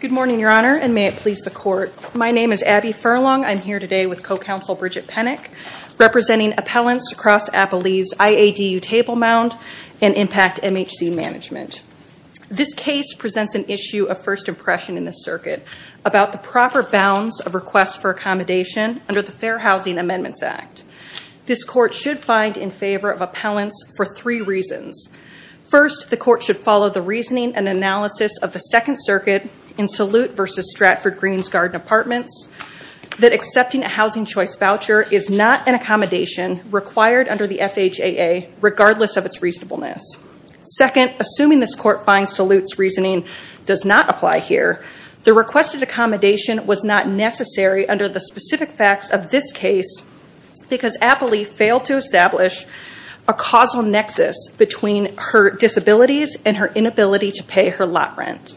Good morning, Your Honor, and may it please the Court. My name is Abby Furlong. I'm here today with co-counsel Bridget Pennick, representing appellants across Appalachia's IADU Table Mound and Impact MHC Management. This case presents an issue of first impression in this circuit about the proper bounds of requests for accommodation under the Fair Housing Amendments Act. This Court should find in favor of appellants for three reasons. First, the Court should follow the reasoning and analysis of the Second Circuit in Salute v. Stratford-Greens Garden Apartments that accepting a housing choice voucher is not an accommodation required under the FHAA regardless of its reasonableness. Second, assuming this Court finds Salute's reasoning does not apply here, the requested accommodation was not necessary under the specific facts of this case because Appley failed to establish a causal nexus between her disabilities and her inability to pay her lot rent.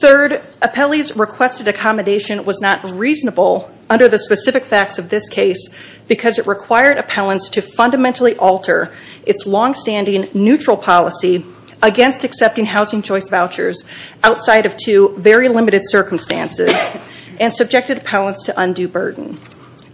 Third, Appley's requested accommodation was not reasonable under the specific facts of this case because it required appellants to fundamentally alter its longstanding neutral policy against accepting housing choice vouchers outside of two very limited circumstances and subjected appellants to undue burden.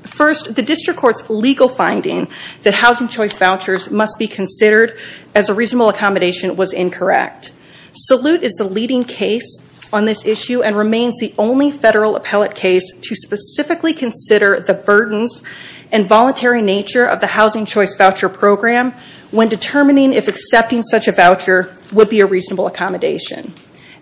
First, the District Court's legal finding that housing choice vouchers must be considered as a reasonable accommodation was incorrect. Salute is the leading case on this issue and remains the only federal appellate case to specifically consider the burdens and voluntary nature of the housing choice voucher program when determining if accepting such a voucher would be a reasonable accommodation.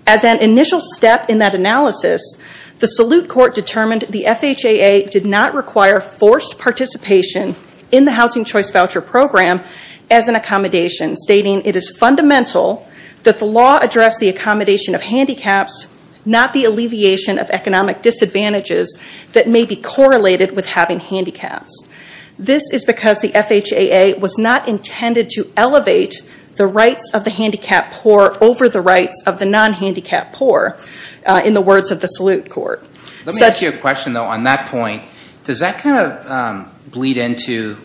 As an initial step in that analysis, the Salute Court determined the FHAA did not require forced participation in the housing choice voucher program as an accommodation, stating it is fundamental that the law address the accommodation of handicaps, not the alleviation of economic disadvantages that may be correlated with having handicaps. This is because the FHAA was not intended to elevate the rights of the handicapped poor over the rights of the non-handicapped poor, in the words of the Salute Court. Let me ask you a question, though. On that point, does that kind of bleed into,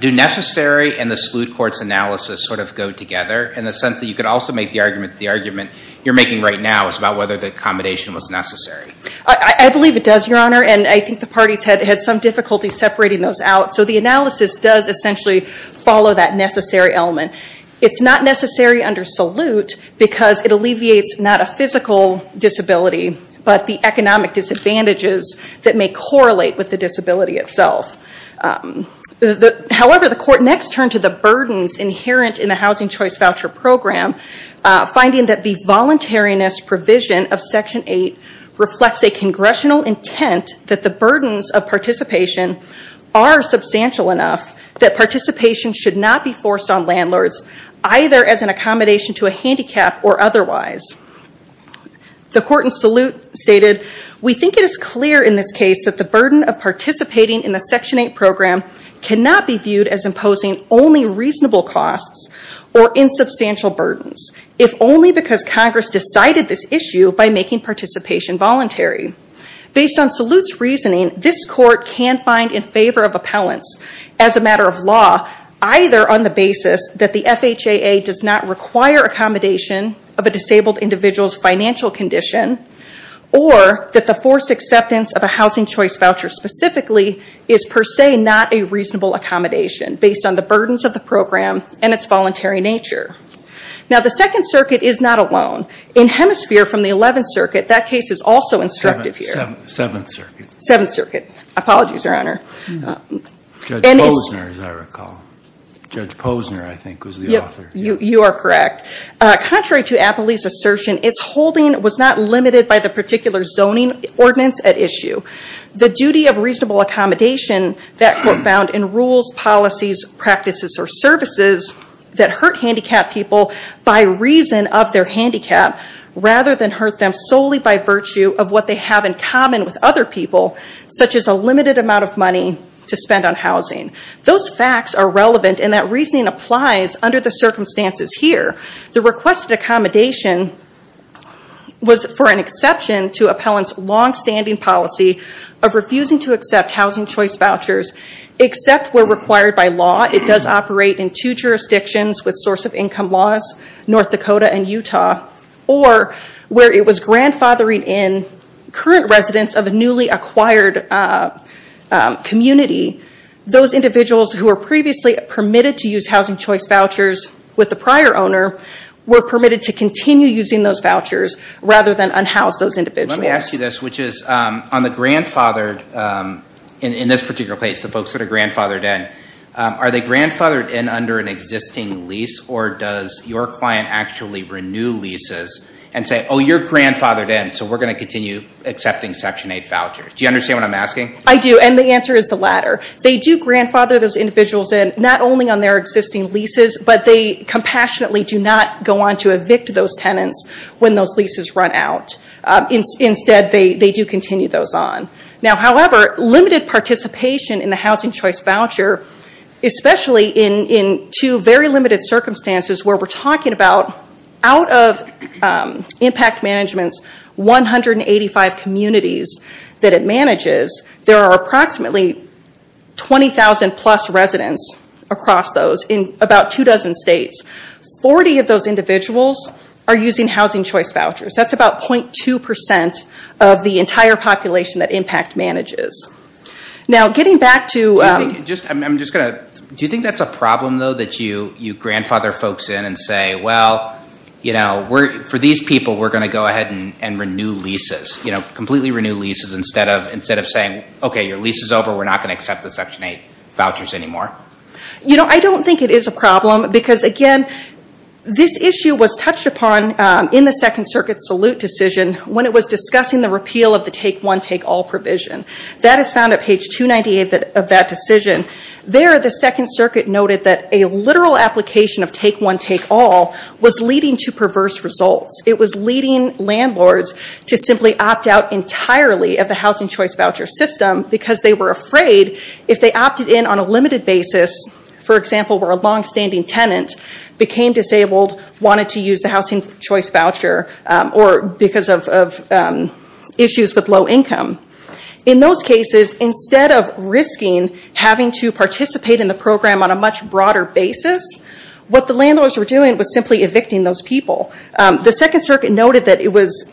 do necessary and the Salute Court's analysis sort of go together in the sense that you could also make the argument that the argument you're making right now is about whether the accommodation was necessary? I believe it does, Your Honor, and I think the parties had some difficulty separating those out, so the analysis does essentially follow that necessary element. It's not necessary under Salute because it alleviates not a physical disability, but the economic disadvantages that may correlate with the disability itself. However, the court next turned to the burdens inherent in the housing choice voucher program, finding that the voluntariness provision of Section 8 reflects a congressional intent that the burdens of participation are substantial enough that participation should not be forced on landlords, either as an accommodation to a handicap or otherwise. The court in Salute stated, we think it is clear in this case that the burden of participating in the Section 8 program cannot be viewed as imposing only reasonable costs or insubstantial burdens, if only because Congress decided this issue by making participation voluntary. Based on Salute's reasoning, this court can find in as a matter of law, either on the basis that the FHAA does not require accommodation of a disabled individual's financial condition or that the forced acceptance of a housing choice voucher specifically is per se not a reasonable accommodation based on the burdens of the program and its voluntary nature. Now the Second Circuit is not alone. In Hemisphere from the Eleventh Circuit, that case is also instructive here. Seventh Circuit. Seventh Circuit. Apologies, Your Honor. Judge Posner, as I recall. Judge Posner, I think, was the author. You are correct. Contrary to Appley's assertion, its holding was not limited by the particular zoning ordinance at issue. The duty of reasonable accommodation that court found in rules, policies, practices, or services that hurt handicapped people by reason of their handicap rather than hurt them solely by virtue of what they have in common with other people, such as a limited amount of money to spend on housing. Those facts are relevant in that reasoning applies under the circumstances here. The requested accommodation was for an exception to Appellant's longstanding policy of refusing to accept housing choice vouchers except where required by law. It does operate in two jurisdictions with source of income laws, North Dakota and Utah, or where it was grandfathered in current residents of a newly acquired community. Those individuals who were previously permitted to use housing choice vouchers with the prior owner were permitted to continue using those vouchers rather than unhouse those individuals. Let me ask you this, which is on the grandfathered, in this particular case, the folks that are does your client actually renew leases and say, oh, you're grandfathered in, so we're going to continue accepting Section 8 vouchers? Do you understand what I'm asking? I do, and the answer is the latter. They do grandfather those individuals in, not only on their existing leases, but they compassionately do not go on to evict those tenants when those leases run out. Instead, they do continue those on. However, limited participation in the housing choice voucher, especially in two very limited circumstances where we're talking about out of impact management's 185 communities that it manages, there are approximately 20,000 plus residents across those in about two dozen states. Forty of those individuals are using housing choice vouchers. That's about 0.2 percent of the entire population that impact manages. Now, getting back to... Do you think that's a problem, though, that you grandfather folks in and say, well, for these people, we're going to go ahead and renew leases, completely renew leases, instead of saying, okay, your lease is over, we're not going to accept the Section 8 vouchers anymore? I don't think it is a problem because, again, this issue was touched upon in the Second Circuit's Take One, Take All provision. That is found at page 298 of that decision. There, the Second Circuit noted that a literal application of Take One, Take All was leading to perverse results. It was leading landlords to simply opt out entirely of the housing choice voucher system because they were afraid if they opted in on a limited basis, for example, where a longstanding tenant became disabled, wanted to use the housing choice voucher, or because of issues with low income. In those cases, instead of risking having to participate in the program on a much broader basis, what the landlords were doing was simply evicting those people. The Second Circuit noted that it was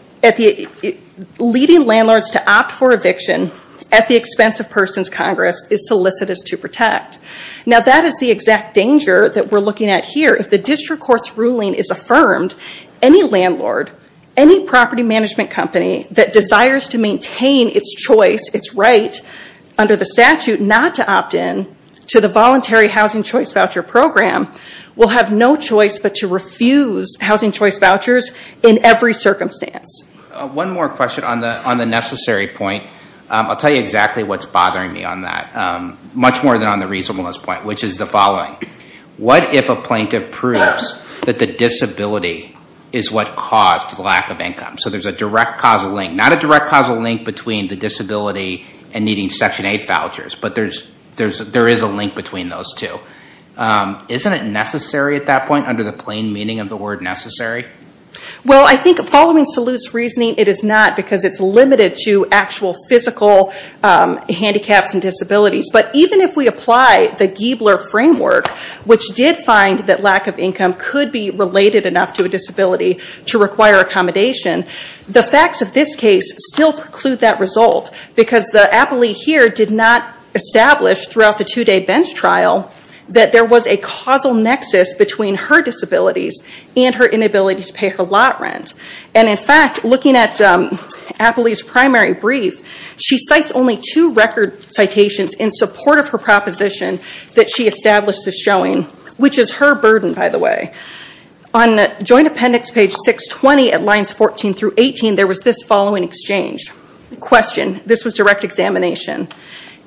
leading landlords to opt for eviction at the expense of persons Congress is solicitous to protect. Now, that is the exact danger that we're looking at here. If the district court's ruling is affirmed, any landlord, any property management company that desires to maintain its choice, its right under the statute not to opt in to the voluntary housing choice voucher program will have no choice but to refuse housing choice vouchers in every circumstance. One more question on the necessary point. I'll tell you exactly what's bothering me on that, much more than on the reasonableness point, which is the following. What if a plaintiff proves that the disability is what caused the lack of income? So there's a direct causal link. Not a direct causal link between the disability and needing Section 8 vouchers, but there is a link between those two. Isn't it necessary at that point, under the plain meaning of the word necessary? Well, I think following Salute's reasoning, it is not, because it's limited to actual physical handicaps and disabilities. But even if we apply the Giebler framework, which did find that lack of income could be related enough to a disability to require accommodation, the facts of this case still preclude that result, because the appellee here did not establish throughout the two-day bench trial that there was a causal nexus between her disabilities and her inability to pay her lot rent. And in fact, looking at the appellee's primary brief, she cites only two record citations in support of her proposition that she established as showing, which is her burden, by the way. On joint appendix page 620 at lines 14 through 18, there was this following exchange. Question. This was direct examination.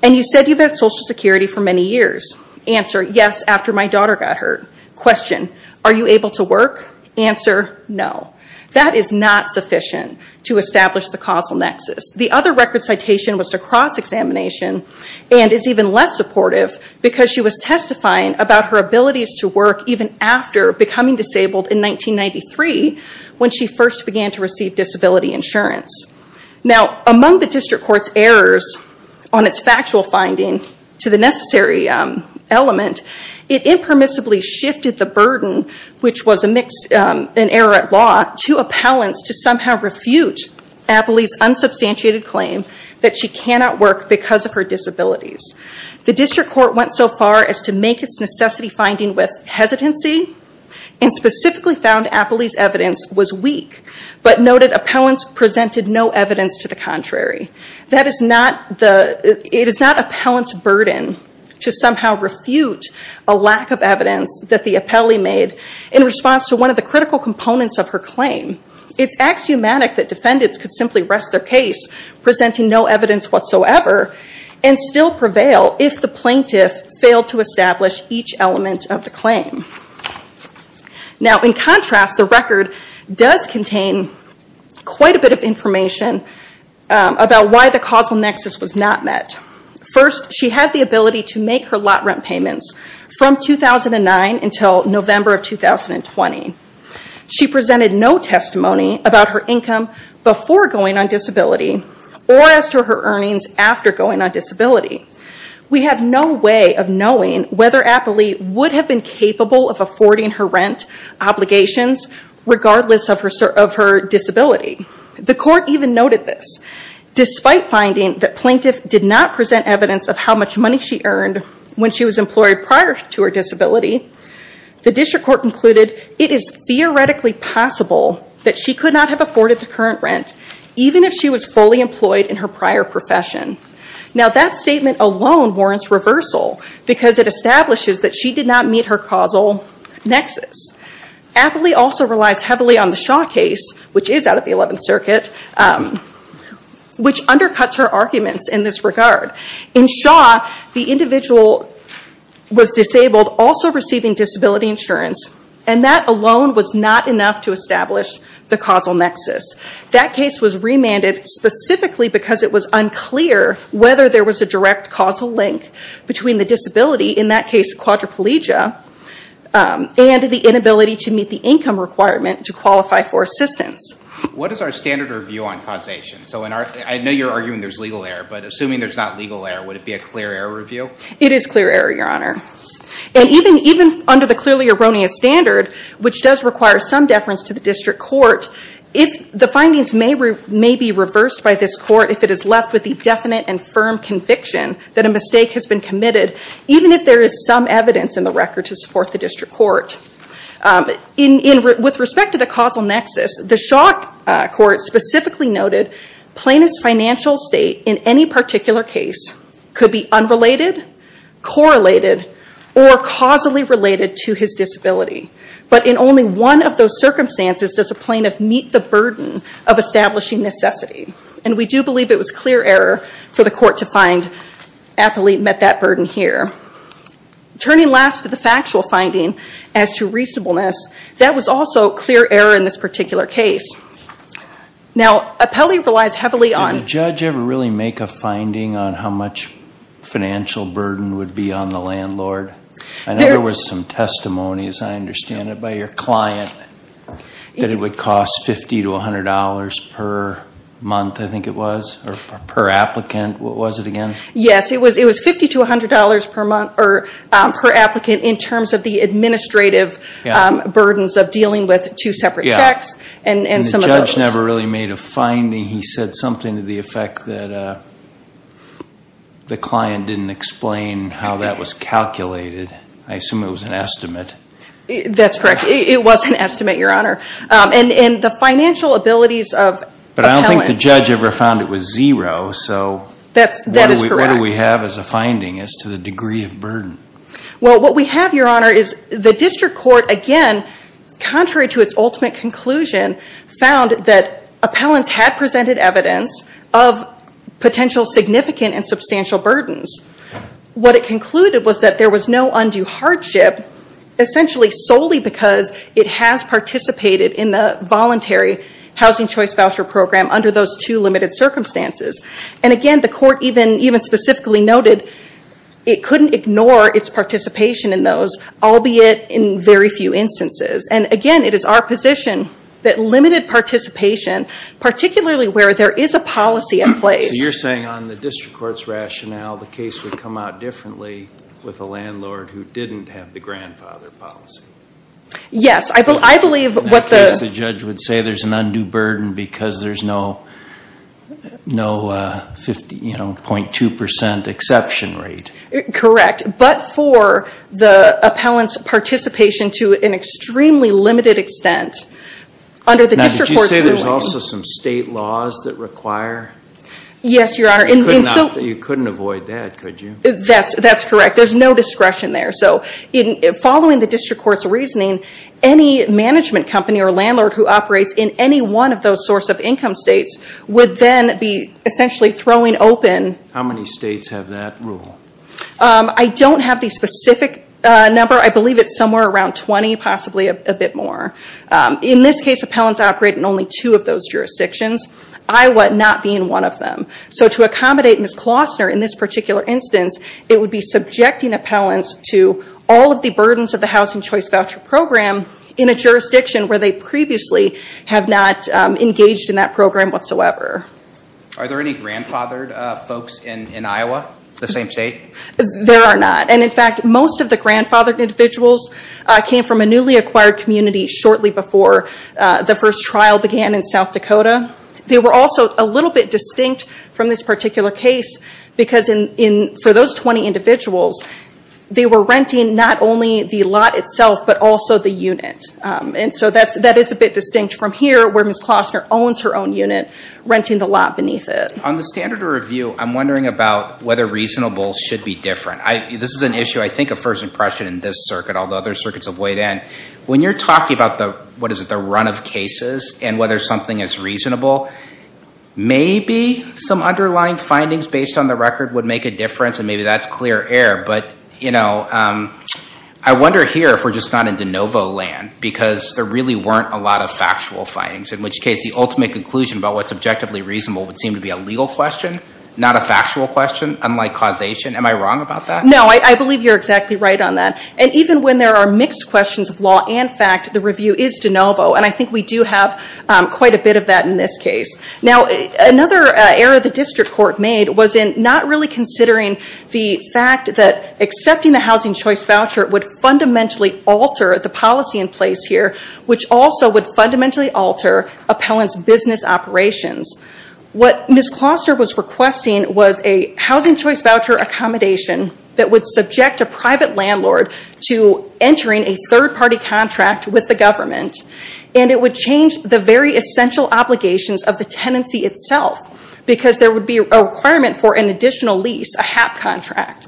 And you said you've had Social Security for many years. Answer. Yes, after my daughter got hurt. Question. Are you able to work? Answer. No. That is not sufficient to establish the causal nexus. The other record citation was to cross-examination and is even less supportive, because she was testifying about her abilities to work even after becoming disabled in 1993, when she first began to receive disability insurance. Now, among the district court's errors on its factual finding to the necessary element, it impermissibly shifted the burden, which that she cannot work because of her disabilities. The district court went so far as to make its necessity finding with hesitancy and specifically found appellee's evidence was weak, but noted appellant's presented no evidence to the contrary. That is not the, it is not appellant's burden to somehow refute a lack of evidence that the appellee made in response to one of the critical components of her claim. It's axiomatic that defendants could simply rest their case presenting no evidence whatsoever and still prevail if the plaintiff failed to establish each element of the claim. Now, in contrast, the record does contain quite a bit of information about why the causal nexus was not met. First, she had the ability to make her lot rent payments from 2009 until November of 2020. She presented no testimony about her income before going on disability or as to her earnings after going on disability. We have no way of knowing whether appellee would have been capable of affording her rent obligations regardless of her disability. The court even noted this, despite finding that plaintiff did not present evidence of how much money she earned when she was employed prior to her disability. The district court concluded it is theoretically possible that she could not have afforded the current rent even if she was fully employed in her prior profession. Now, that statement alone warrants reversal because it establishes that she did not meet her causal nexus. Appellee also relies heavily on the Shaw case, which is out of the 11th Circuit, which undercuts her arguments in this regard. In Shaw, the individual was disabled, also receiving disability insurance, and that alone was not enough to establish the causal nexus. That case was remanded specifically because it was unclear whether there was a direct causal link between the disability, in that case quadriplegia, and the inability to meet the income requirement to qualify for assistance. What is our standard review on causation? I know you're arguing there's legal error, but assuming there's not legal error, would it be a clear error review? It is clear error, Your Honor. And even under the clearly erroneous standard, which does require some deference to the district court, the findings may be reversed by this court if it is left with the definite and firm conviction that a mistake has been committed, even if there is some evidence in the record to support the district court. With respect to the causal nexus, the Shaw court specifically noted plaintiff's financial state in any particular case could be unrelated, correlated, or causally related to his disability. But in only one of those circumstances does a plaintiff meet the burden of establishing necessity. And we do believe it was clear error for the court to find Appolite met that through reasonableness. That was also clear error in this particular case. Now Appellee relies heavily on- Did the judge ever really make a finding on how much financial burden would be on the landlord? I know there was some testimony, as I understand it, by your client that it would cost $50 to $100 per month, I think it was, or per applicant. What was it again? Yes, it was $50 to $100 per month, or per applicant in terms of the administrative burdens of dealing with two separate checks and some of those. And the judge never really made a finding. He said something to the effect that the client didn't explain how that was calculated. I assume it was an estimate. That's correct. It was an estimate, your honor. And the financial abilities of Appellant- But I don't think the judge ever found it was zero, so- That is correct. What do we have as a finding as to the degree of burden? Well, what we have, your honor, is the district court again, contrary to its ultimate conclusion, found that Appellants had presented evidence of potential significant and substantial burdens. What it concluded was that there was no undue hardship essentially solely because it has participated in the voluntary housing choice voucher program under those two limited circumstances. And again, the court even specifically noted it couldn't ignore its participation in those, albeit in very few instances. And again, it is our position that limited participation, particularly where there is a policy in place- So you're saying on the district court's rationale, the case would come out differently with a landlord who didn't have the grandfather policy? Yes, I believe what the- Because there's no 0.2% exception rate. Correct. But for the Appellant's participation to an extremely limited extent, under the district court's- Now, did you say there's also some state laws that require- Yes, your honor. And so- You couldn't avoid that, could you? That's correct. There's no discretion there. So following the district court's reasoning, any management company or landlord who operates in any one of those source of income states would then be essentially throwing open- How many states have that rule? I don't have the specific number. I believe it's somewhere around 20, possibly a bit more. In this case, Appellants operate in only two of those jurisdictions, Iowa not being one of them. So to accommodate Ms. Klosner in this particular instance, it would be subjecting Appellants to all of the burdens of the Housing Choice Voucher Program in a jurisdiction where they previously have not engaged in that program whatsoever. Are there any grandfathered folks in Iowa, the same state? There are not. And in fact, most of the grandfathered individuals came from a newly acquired community shortly before the first trial began in South Dakota. They were also a little bit distinct from this particular case because for those 20 individuals, they were renting not only the lot itself but also the unit. And so that is a bit distinct from here where Ms. Klosner owns her own unit, renting the lot beneath it. On the standard of review, I'm wondering about whether reasonable should be different. This is an issue, I think, of first impression in this circuit, although other circuits have weighed in. When you're talking about the run of cases and whether something is reasonable, maybe some underlying findings based on the record would make a difference and maybe that's clear air. But I wonder here if we're just not in de novo land because there really weren't a lot of factual findings, in which case the ultimate conclusion about what's objectively reasonable would seem to be a legal question, not a factual question, unlike causation. Am I wrong about that? No, I believe you're exactly right on that. And even when there are mixed questions of this case. Now, another error the district court made was in not really considering the fact that accepting the housing choice voucher would fundamentally alter the policy in place here, which also would fundamentally alter appellant's business operations. What Ms. Klosner was requesting was a housing choice voucher accommodation that would subject a private landlord to entering a third party contract with the government and it would change the very essential obligations of the tenancy itself because there would be a requirement for an additional lease, a HAP contract.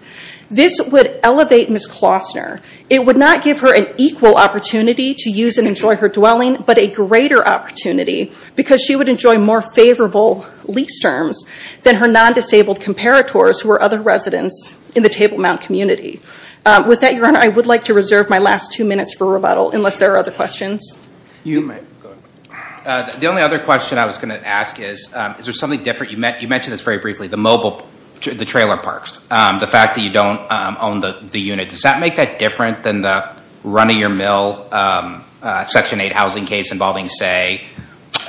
This would elevate Ms. Klosner. It would not give her an equal opportunity to use and enjoy her dwelling, but a greater opportunity because she would enjoy more favorable lease terms than her non-disabled comparators who are other residents in the Table Mount community. With that, Your Honor, I would like to reserve my last two minutes for rebuttal unless there are other questions. You may. Go ahead. The only other question I was going to ask is, is there something different, you mentioned this very briefly, the mobile, the trailer parks, the fact that you don't own the unit. Does that make that different than the run of your mill Section 8 housing case involving, say,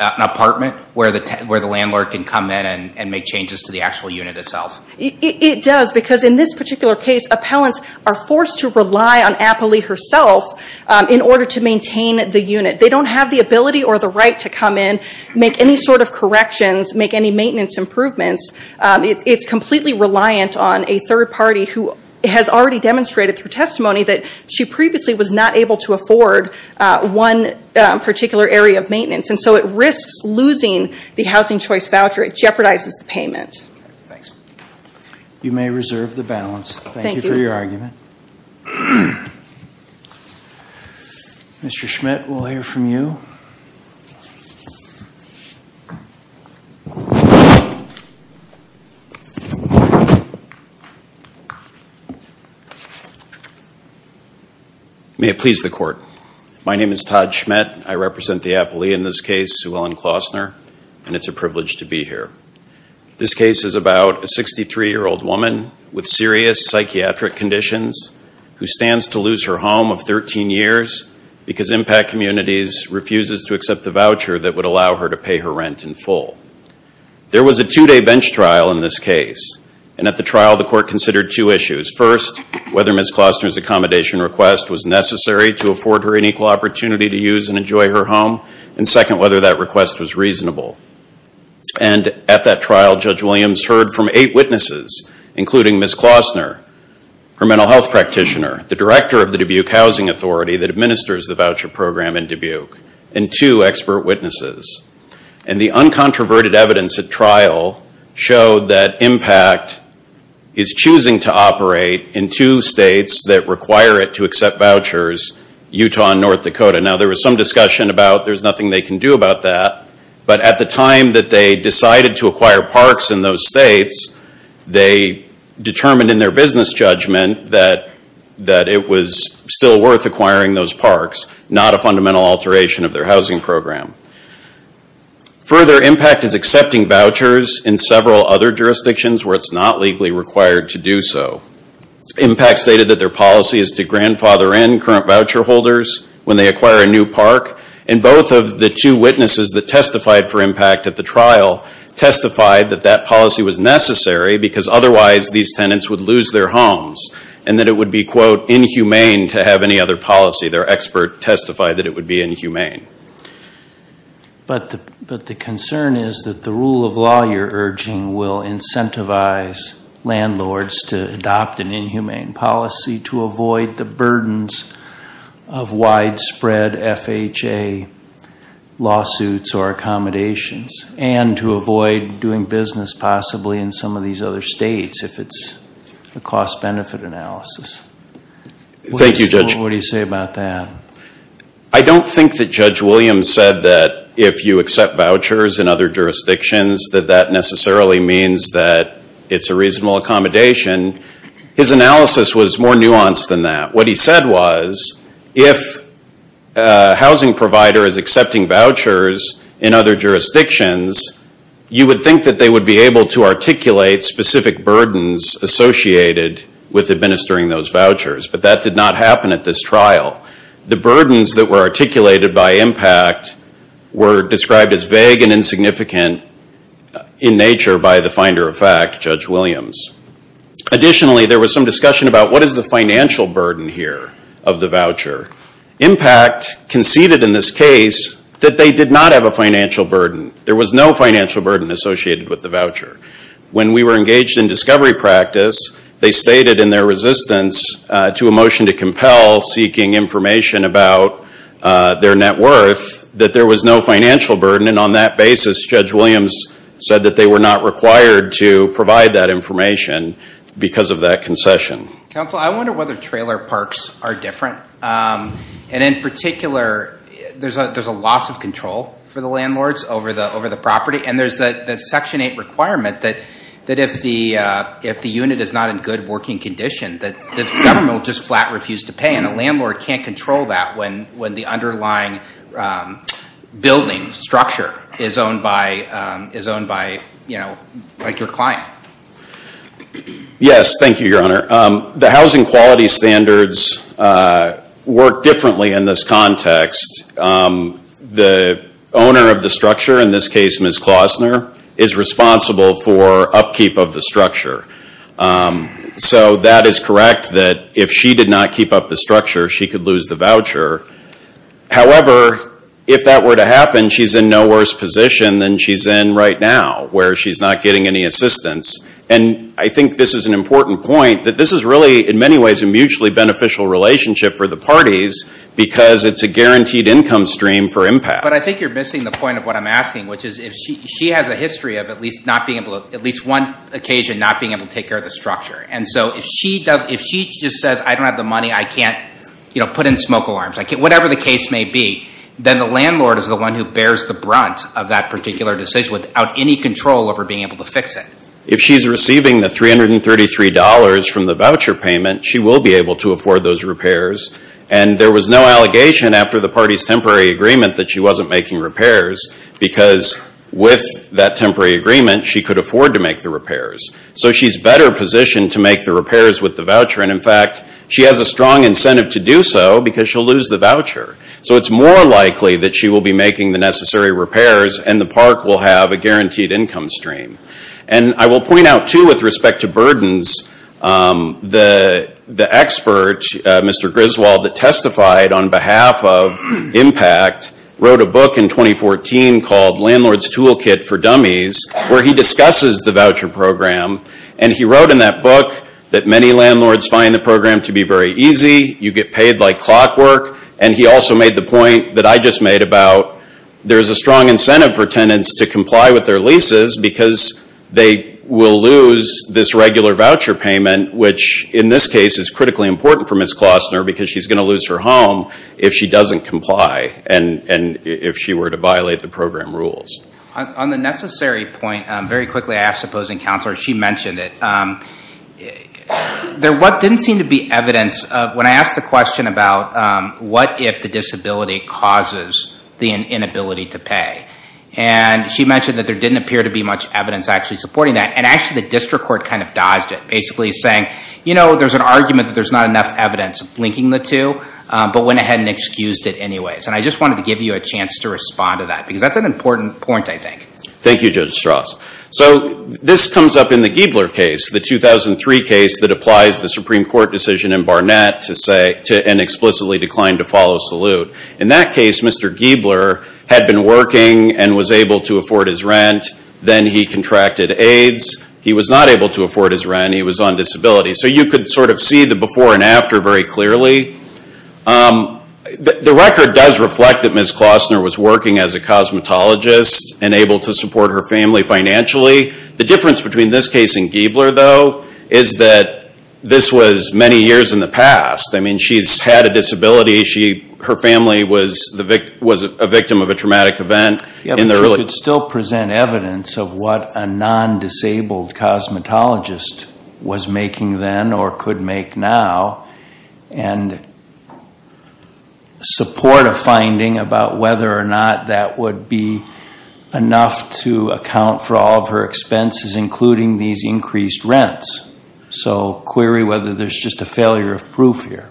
an apartment where the landlord can come in and make changes to the actual unit itself? It does because in this particular case, appellants are forced to rely on Appley herself in order to maintain the unit. They don't have the ability or the right to come in, make any sort of corrections, make any maintenance improvements. It's completely reliant on a third party who has already demonstrated through testimony that she previously was not able to afford one particular area of maintenance, and so it risks losing the housing choice voucher. It jeopardizes the payment. You may reserve the balance. Thank you. Thank you for your argument. Mr. Schmidt, we'll hear from you. May it please the Court. My name is Todd Schmidt. I represent the appellee in this case, Sue Ellen Klausner, and it's a privilege to be here. This case is about a 63-year-old woman with serious psychiatric conditions who stands to lose her home of 13 years because Impact Communities refuses to accept the voucher that would allow her to pay her rent in full. There was a two-day bench trial in this case, and at the trial, the Court considered two issues. First, whether Ms. Klausner's accommodation request was necessary to afford her an equal opportunity to use and enjoy her home, and second, whether that request was reasonable. And at that trial, Judge Williams heard from eight witnesses, including Ms. Klausner, her mental health practitioner, the director of the Dubuque Housing Authority that administers the voucher program in Dubuque, and two expert witnesses. And the uncontroverted evidence at trial showed that Impact is choosing to operate in two states that require it to accept vouchers, Utah and North Dakota. Now, there was some confusion. At the time that they decided to acquire parks in those states, they determined in their business judgment that it was still worth acquiring those parks, not a fundamental alteration of their housing program. Further, Impact is accepting vouchers in several other jurisdictions where it's not legally required to do so. Impact stated that their policy is to grandfather in current voucher holders when they acquire a new park, and both of the two witnesses that testified for Impact at the trial testified that that policy was necessary because otherwise these tenants would lose their homes, and that it would be, quote, inhumane to have any other policy. Their expert testified that it would be inhumane. But the concern is that the rule of law you're urging will incentivize landlords to adopt an inhumane policy to avoid the burdens of widespread FHA lawsuits or accommodations and to avoid doing business possibly in some of these other states if it's a cost-benefit analysis. Thank you, Judge. What do you say about that? I don't think that Judge Williams said that if you accept vouchers in other jurisdictions that that necessarily means that it's a reasonable accommodation. His analysis was more nuanced than that. What he said was if a housing provider is accepting vouchers in other jurisdictions, you would think that they would be able to articulate specific burdens associated with administering those vouchers, but that did not happen at this trial. The burdens that were articulated by IMPACT were described as vague and insignificant in nature by the finder of fact, Judge Williams. Additionally, there was some discussion about what is the financial burden here of the voucher. IMPACT conceded in this case that they did not have a financial burden. There was no financial burden associated with the voucher. When we were engaged in discovery practice, they stated in their resistance to a motion to compel seeking information about their net worth that there was no financial burden, and on that basis, Judge Williams said that they were not required to provide that information because of that concession. Counsel, I wonder whether trailer parks are different. In particular, there's a loss of control for the landlords over the property, and there's the Section 8 requirement that if the unit is not in good working condition, the government will just flat refuse to pay, and a landlord can't control that when the underlying building structure is owned by your client. Yes, thank you, Your Honor. The housing quality standards work differently in this context. The owner of the structure, in this case, Ms. Klausner, is responsible for upkeep of the structure, so that is correct that if she did not keep up the structure, she could lose the voucher. However, if that were to happen, she's in no worse position than she's in right now, where she's not getting any assistance. I think this is an important point that this is really, in many ways, a mutually beneficial relationship for the parties because it's a guaranteed income stream for IMPACT. But I think you're missing the point of what I'm asking, which is if she has a history of at least one occasion not being able to take care of the structure, and so if she just says, I don't have the money, I can't put in smoke alarms, whatever the case may be, then the landlord is the one who bears the brunt of that particular decision without any control over being able to fix it. If she's receiving the $333 from the voucher payment, she will be able to afford those repairs, and there was no allegation after the party's temporary agreement that she wasn't making repairs because with that temporary agreement, she could afford to make the repairs. So she's better positioned to make the repairs with the voucher, and in fact, she has a strong incentive to do so because she'll lose the voucher. So it's more likely that she will be making the necessary repairs and the park will have a guaranteed income stream. And I will point out, too, with respect to burdens, the expert, Mr. Griswold, that testified on behalf of IMPACT wrote a book in 2014 called Landlord's Toolkit for Dummies, where he discusses the voucher program. And he wrote in that book that many landlords find the program to be very easy. You get paid like clockwork. And he also made the point that I just made about there's a strong incentive for tenants to comply with their leases because they will lose this regular voucher payment, which in this case is critically important for Ms. Klostner because she's going to lose her home if she doesn't comply and if she were to violate the program rules. On the necessary point, very quickly, I ask the opposing counselor, she mentioned it. There didn't seem to be evidence, when I asked the question about what if the disability causes the inability to pay. And she mentioned that there didn't appear to be much evidence actually supporting that. And actually, the district court kind of dodged it, basically saying, you know, there's an argument that there's not enough evidence linking the two, but went ahead and excused it anyways. And I just wanted to give you a chance to respond to that because that's an important point, I think. Thank you, Judge Strauss. So this comes up in the Giebler case, the 2003 case that applies the Supreme Court decision in Barnett to an explicitly declined to follow salute. In that case, Mr. Giebler had been working and was able to afford his rent. Then he contracted AIDS. He was not able to afford his rent, he was on disability. So you could sort of see the before and after very clearly. The record does reflect that Ms. Klostner was working as a cosmetologist and able to support her family financially. The difference between this case and Giebler, though, is that this was many years in the past. I mean, she's had a disability. Her family was a victim of a traumatic event in the early... You could still present evidence of what a non-disabled cosmetologist was making then or could make now and support a finding about whether or not that would be enough to account for all of her expenses, including these increased rents. So query whether there's just a failure of proof here.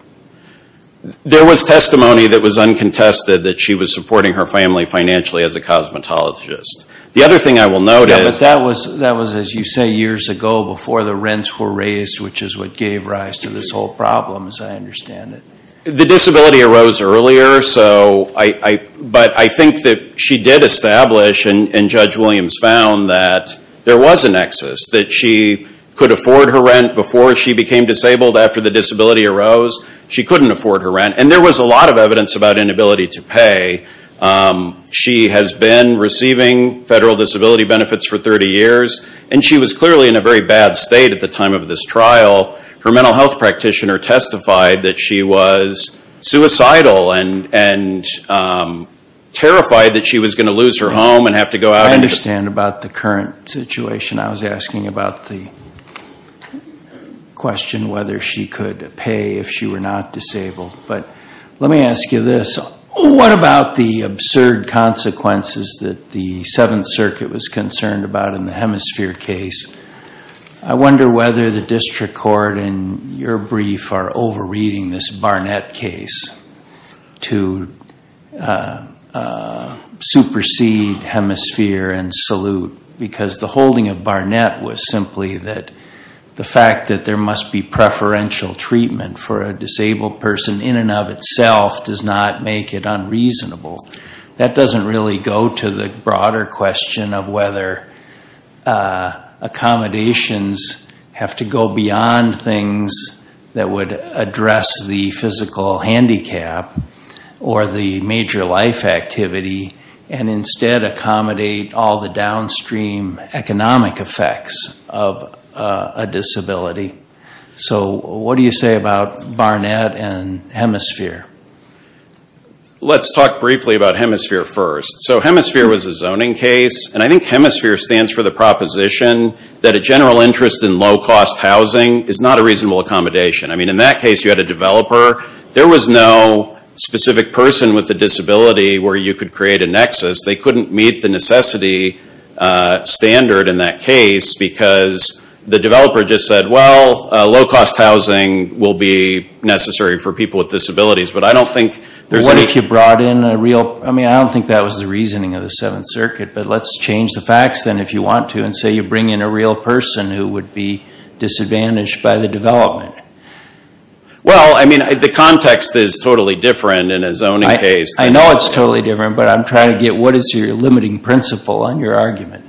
There was testimony that was uncontested that she was supporting her family financially as a cosmetologist. The other thing I will note is... Yeah, but that was, as you say, years ago before the rents were raised, which is what gave rise to this whole problem, as I understand it. The disability arose earlier, but I think that she did establish and Judge Williams found that there was a nexus, that she could afford her rent before she became disabled. After the disability arose, she couldn't afford her rent, and there was a lot of evidence about inability to pay. She has been receiving federal disability benefits for 30 years, and she was clearly in a very bad state at the time of this trial. Her mental health practitioner testified that she was suicidal and terrified that she was going to lose her home and have to go out... I don't understand about the current situation. I was asking about the question whether she could pay if she were not disabled. But let me ask you this, what about the absurd consequences that the Seventh Circuit was concerned about in the Hemisphere case? I wonder whether the district court and your brief are over-reading this Barnett case to supersede Hemisphere and salute, because the holding of Barnett was simply that the fact that there must be preferential treatment for a disabled person in and of itself does not make it unreasonable. That doesn't really go to the broader question of whether accommodations have to go beyond things that would address the physical handicap or the major life activity, and instead accommodate all the downstream economic effects of a disability. So what do you say about Barnett and Hemisphere? Let's talk briefly about Hemisphere first. So Hemisphere was a zoning case, and I think Hemisphere stands for the proposition that a general interest in low-cost housing is not a reasonable accommodation. In that case, you had a developer. There was no specific person with a disability where you could create a nexus. They couldn't meet the necessity standard in that case, because the developer just said, well, low-cost housing will be necessary for people with disabilities. But I don't think... What if you brought in a real... I don't think that was the reasoning of the Seventh Circuit, but let's change the facts then if you want to, and say you bring in a real person who would be disadvantaged by the development. Well, I mean, the context is totally different in a zoning case. I know it's totally different, but I'm trying to get... What is your limiting principle on your argument?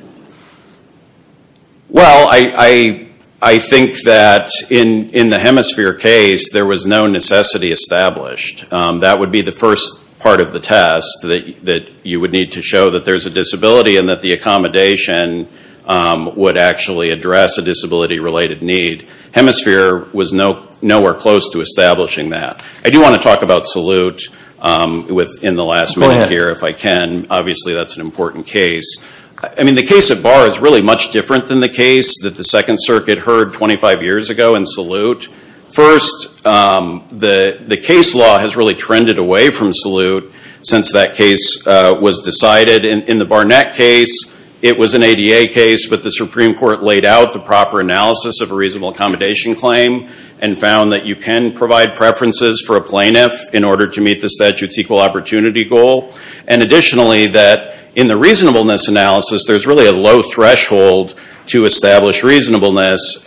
Well, I think that in the Hemisphere case, there was no necessity established. That would be the first part of the test, that you would need to show that there's a reasonable accommodation would actually address a disability-related need. Hemisphere was nowhere close to establishing that. I do want to talk about Salute in the last minute here, if I can. Obviously, that's an important case. The case at Barr is really much different than the case that the Second Circuit heard 25 years ago in Salute. First, the case law has really trended away from Salute since that case was decided. In the Barnett case, it was an ADA case, but the Supreme Court laid out the proper analysis of a reasonable accommodation claim and found that you can provide preferences for a plaintiff in order to meet the statute's equal opportunity goal. Additionally, in the reasonableness analysis, there's really a low threshold to establish reasonableness.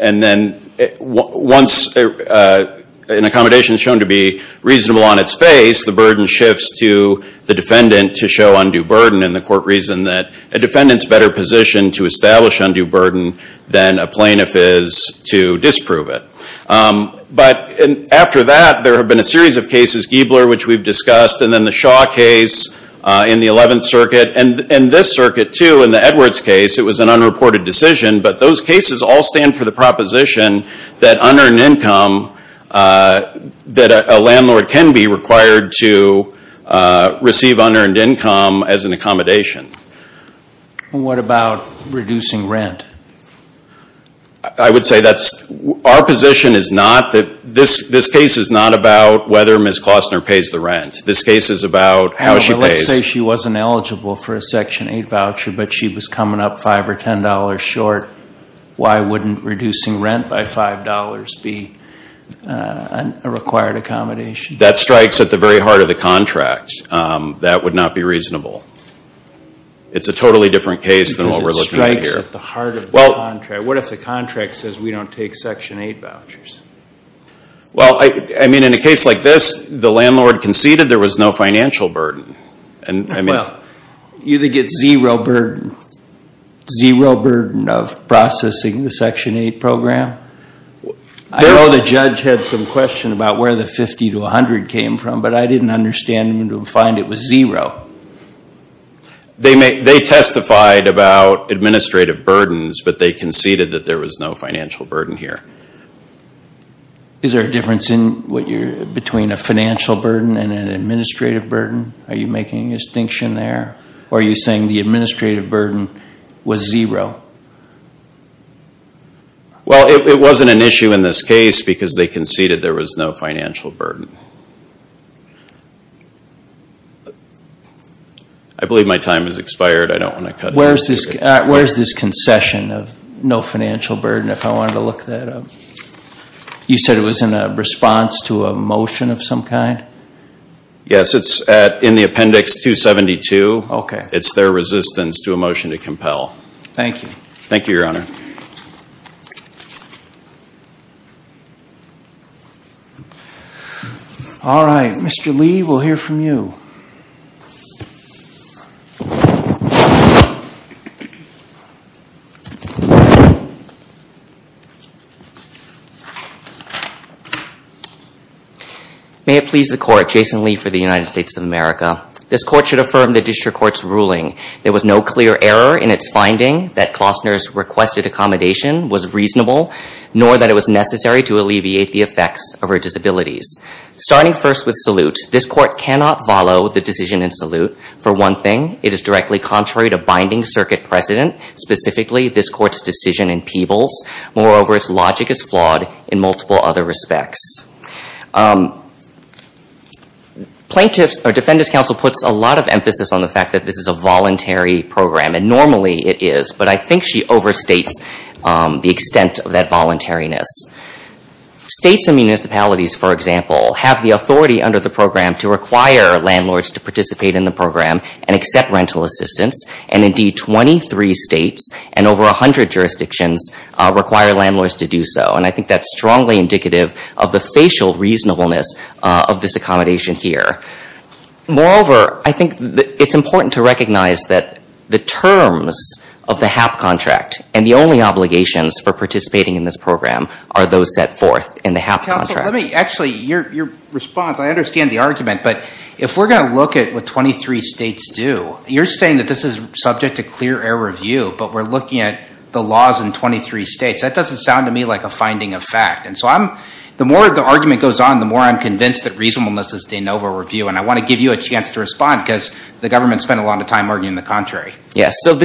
Once an accommodation is shown to be reasonable on its face, the burden shifts to the defendant to show undue burden, and the court reasoned that a defendant's better positioned to establish undue burden than a plaintiff is to disprove it. After that, there have been a series of cases, Giebler, which we've discussed, and then the Shaw case in the Eleventh Circuit, and this circuit, too, in the Edwards case. It was an unreported decision, but those cases all stand for the proposition that unearned income as an accommodation. What about reducing rent? I would say that's, our position is not that, this case is not about whether Ms. Klostner pays the rent. This case is about how she pays. Let's say she wasn't eligible for a Section 8 voucher, but she was coming up five or ten dollars short. Why wouldn't reducing rent by five dollars be a required accommodation? That strikes at the very heart of the contract. That would not be reasonable. It's a totally different case than what we're looking at here. What if the contract says we don't take Section 8 vouchers? Well, I mean, in a case like this, the landlord conceded there was no financial burden, and I mean... Well, you either get zero burden, zero burden of processing the Section 8 program. I know the judge had some question about where the 50 to 100 came from, but I didn't understand when to find it was zero. They testified about administrative burdens, but they conceded that there was no financial burden here. Is there a difference between a financial burden and an administrative burden? Are you making a distinction there? Or are you saying the administrative burden was zero? Well, it wasn't an issue in this case because they conceded there was no financial burden. I believe my time has expired. I don't want to cut it. Where's this concession of no financial burden if I wanted to look that up? You said it was in a response to a motion of some kind? Yes, it's in the Appendix 272. It's their resistance to a motion to compel. Thank you. Thank you, Your Honor. All right. Mr. Lee, we'll hear from you. May it please the Court, Jason Lee for the United States of America. This Court should affirm the District Court's ruling. There was no clear error in its finding that Klostner's requested accommodation was reasonable, nor that it was necessary to alleviate the effects of her disabilities. Starting first with salute, this Court cannot follow the decision in salute. For one thing, it is directly contrary to binding circuit precedent, specifically this Court's decision in Peebles. Moreover, its logic is flawed in multiple other respects. Defendant's counsel puts a lot of emphasis on the fact that this is a voluntary program, and normally it is. But I think she overstates the extent of that voluntariness. States and municipalities, for example, have the authority under the program to require landlords to participate in the program and accept rental assistance. And indeed, 23 states and over 100 jurisdictions require landlords to do so. And I think that's strongly indicative of the facial reasonableness of this accommodation here. Moreover, I think it's important to recognize that the terms of the HAP contract, and the only obligations for participating in this program, are those set forth in the HAP contract. Actually, your response, I understand the argument, but if we're going to look at what 23 states do, you're saying that this is subject to clear error view, but we're looking at the laws in 23 states. That doesn't sound to me like a finding of fact. And so the more the argument goes on, the more I'm convinced that reasonableness is de novo review. And I want to give you a chance to respond, because the government spent a lot of time arguing the contrary. Yes, so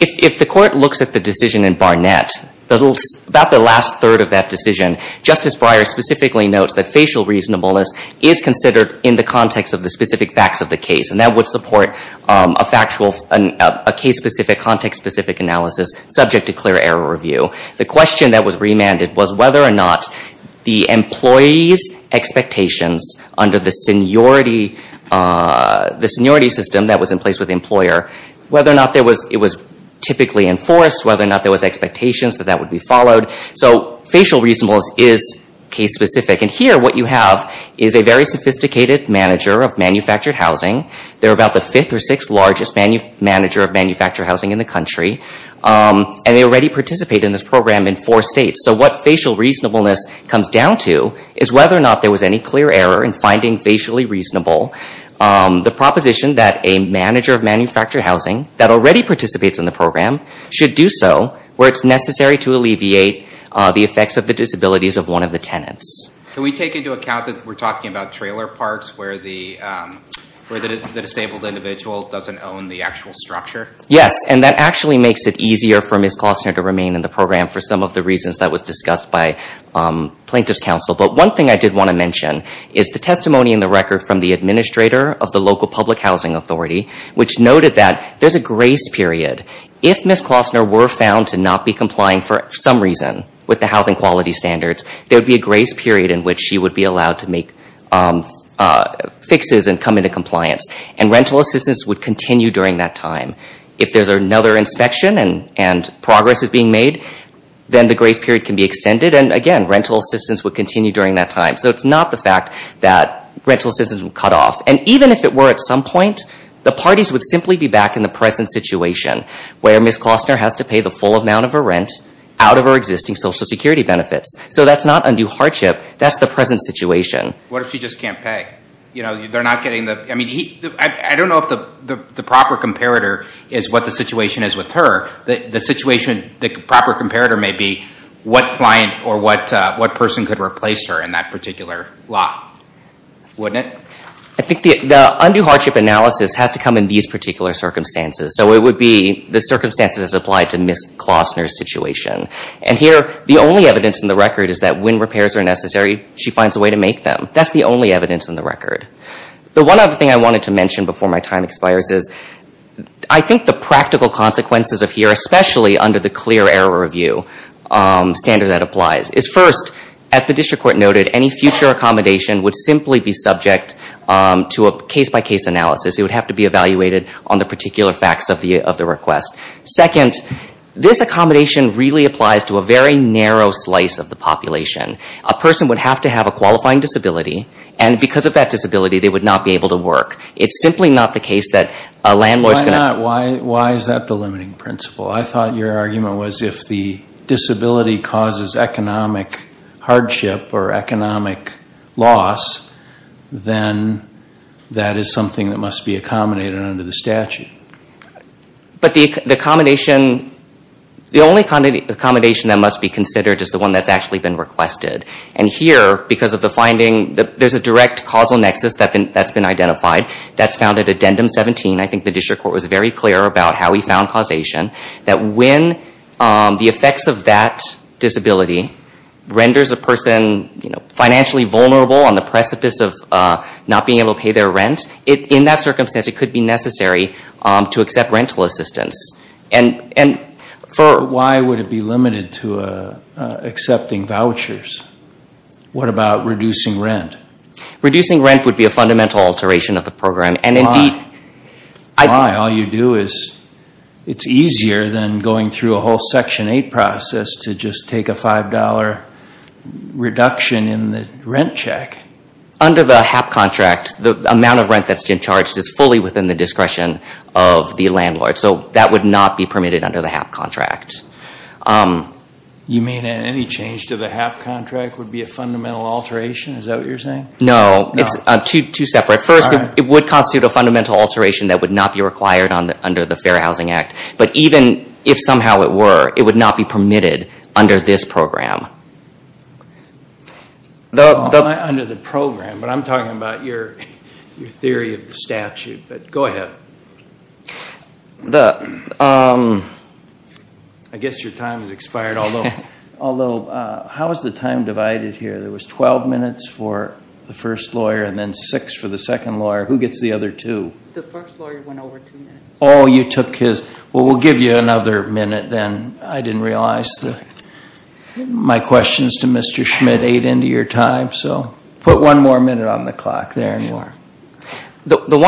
if the court looks at the decision in Barnett, about the last third of that decision, Justice Breyer specifically notes that facial reasonableness is considered in the context of the specific facts of the case. And that would support a case-specific, context-specific analysis subject to clear error review. The question that was remanded was whether or not the employee's expectations, under the seniority system that was in place with the employer, whether or not it was typically enforced, whether or not there was expectations that that would be followed. So facial reasonableness is case-specific. And here what you have is a very sophisticated manager of manufactured housing. They're about the fifth or sixth largest manager of manufactured housing in the country. And they already participate in this program in four states. So what facial reasonableness comes down to is whether or not there was any clear error in finding facially reasonable. The proposition that a manager of manufactured housing, that already participates in the program, should do so where it's necessary to alleviate the effects of the disabilities of one of the tenants. Can we take into account that we're talking about trailer parks where the disabled individual doesn't own the actual structure? Yes, and that actually makes it easier for Ms. Klosner to remain in the program for some of the reasons that was discussed by plaintiff's counsel. But one thing I did want to mention is the testimony in the record from the administrator of the local public housing authority, which noted that there's a grace period. If Ms. Klosner were found to not be complying for some reason with the housing quality standards, there would be a grace period in which she would be allowed to make fixes and come into compliance. And rental assistance would continue during that time. If there's another inspection and progress is being made, then the grace period can be extended. And again, rental assistance would continue during that time. So it's not the fact that rental assistance would cut off. And even if it were at some point, the parties would simply be back in the present situation where Ms. Klosner has to pay the full amount of her rent out of her existing Social Security benefits. So that's not undue hardship. That's the present situation. What if she just can't pay? I don't know if the proper comparator is what the situation is with her. The proper comparator may be what client or what person could replace her in that particular lot. Wouldn't it? I think the undue hardship analysis has to come in these particular circumstances. So it would be the circumstances applied to Ms. Klosner's situation. And here, the only evidence in the record is that when repairs are necessary, she finds a way to make them. That's the only evidence in the record. The one other thing I wanted to mention before my time expires is, I think the practical consequences of here, especially under the clear error review standard that applies, is first, as the District Court noted, any future accommodation would simply be subject to a case-by-case analysis. It would have to be evaluated on the particular facts of the request. Second, this accommodation really applies to a very narrow slice of the population. A person would have to have a qualifying disability, and because of that disability, they would not be able to work. It's simply not the case that a landlord's going to... Why not? Why is that the limiting principle? I thought your argument was if the disability causes economic hardship or economic loss, then that is something that must be accommodated under the statute. But the accommodation... The only accommodation that must be considered is the one that's actually been requested. And here, because of the finding, there's a direct causal nexus that's been identified. That's found at Addendum 17. I think the District Court was very clear about how we found causation, that when the effects of that disability renders a person financially vulnerable on the precipice of not being able to pay their rent, in that circumstance, it could be necessary to accept rental assistance. Why would it be limited to accepting vouchers? What about reducing rent? Reducing rent would be a fundamental alteration of the program. Why? All you do is... It's easier than going through a whole Section 8 process to just take a $5 reduction in the rent check. Under the HAP contract, the amount of rent that's being charged is fully within the discretion of the landlord. So that would not be permitted under the HAP contract. You mean any change to the HAP contract would be a fundamental alteration? Is that what you're saying? No, it's two separate... First, it would constitute a fundamental alteration that would not be required under the Fair Housing Act. But even if somehow it were, it would not be permitted under this program. Under the program? But I'm talking about your theory of the statute. But go ahead. I guess your time has expired. Although, how is the time divided here? There was 12 minutes for the first lawyer, and then 6 for the second lawyer. Who gets the other two? The first lawyer went over 2 minutes. Oh, you took his... Well, we'll give you another minute then. I didn't realize my questions to Mr. Schmidt ate into your time. So put one more minute on the clock there. The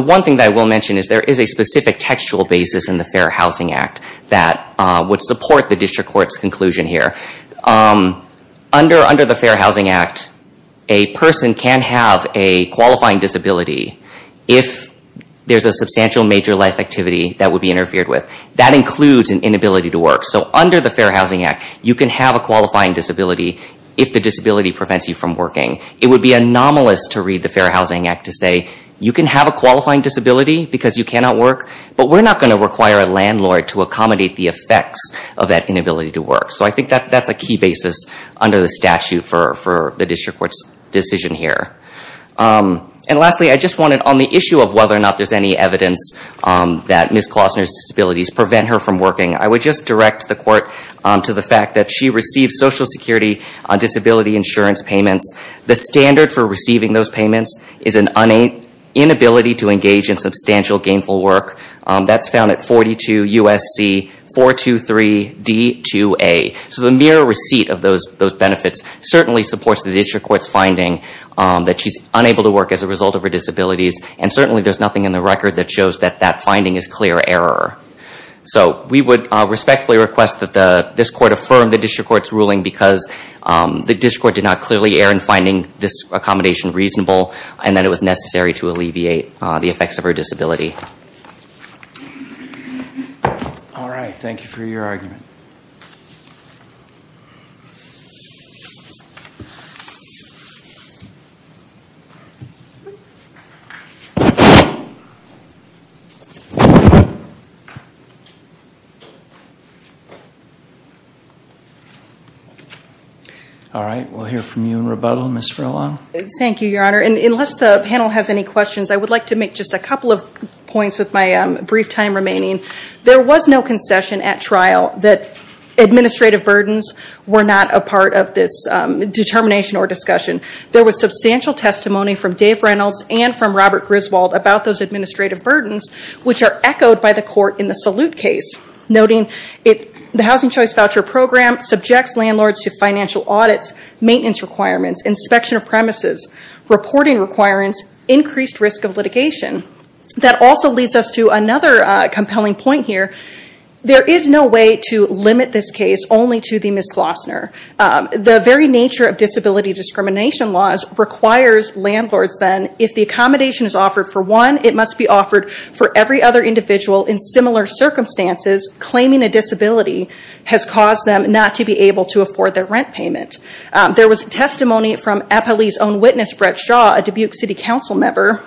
one thing that I will mention is there is a specific textual basis in the Fair Housing Act that would support the District Court's conclusion here. Under the Fair Housing Act, a person can have a qualifying disability if there's a substantial major life activity that would be interfered with. That includes an inability to work. So under the Fair Housing Act, you can have a qualifying disability if the disability prevents you from working. It would be anomalous to read the Fair Housing Act to say, you can have a qualifying disability because you cannot work, but we're not going to require a landlord to accommodate the effects of that inability to work. So I think that's a key basis under the statute for the District Court's decision here. And lastly, I just wanted, on the issue of whether or not there's any evidence that Ms. Klossner's disabilities prevent her from working, I would just direct the Court to the fact that she received Social Security disability insurance payments. The standard for receiving those payments is an inability to engage in substantial gainful work. That's found at 42 U.S.C. 423 D2A. So the mere receipt of those benefits certainly supports the District Court's finding that she's unable to work as a result of her disabilities. And certainly there's nothing in the record that shows that that finding is clear error. So we would respectfully request that this Court affirm the District Court's ruling because the District Court did not clearly err in finding this accommodation reasonable and that it was necessary to alleviate the effects of her disability. All right. Thank you for your argument. All right. We'll hear from you in rebuttal. Ms. Frillon. Thank you, Your Honor. And unless the panel has any questions, I would like to make just a couple of points with my brief time remaining. There was no concession at trial that administrative burdens were not a part of this determination or discussion. were not a part of this determination or discussion. about those administrative burdens, which are echoed by the Court in the Salute case, noting the Housing Choice Voucher Program subjects landlords to financial audits, maintenance requirements, inspection of premises, reporting requirements, increased risk of litigation. That also leads us to another compelling point here. There is no way to limit this case only to the Ms. Glossner. The very nature of disability discrimination laws requires landlords then, if the accommodation is offered for one, it must be offered for every other individual in similar circumstances, claiming a disability has caused them not to be able to afford their rent payment. There was testimony from Eppley's own witness, Brett Shaw, a Dubuque City Council member,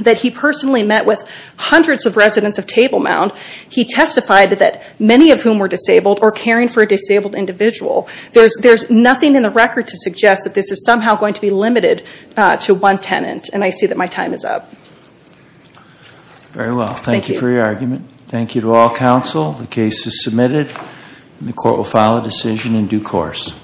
that he personally met with hundreds of residents of Table Mound. He testified that many of whom were disabled or caring for a disabled individual. There's nothing in the record to I see that my time is up. Very well. Thank you for your argument. Thank you to all counsel. The case is submitted. The Court will file a decision in due course.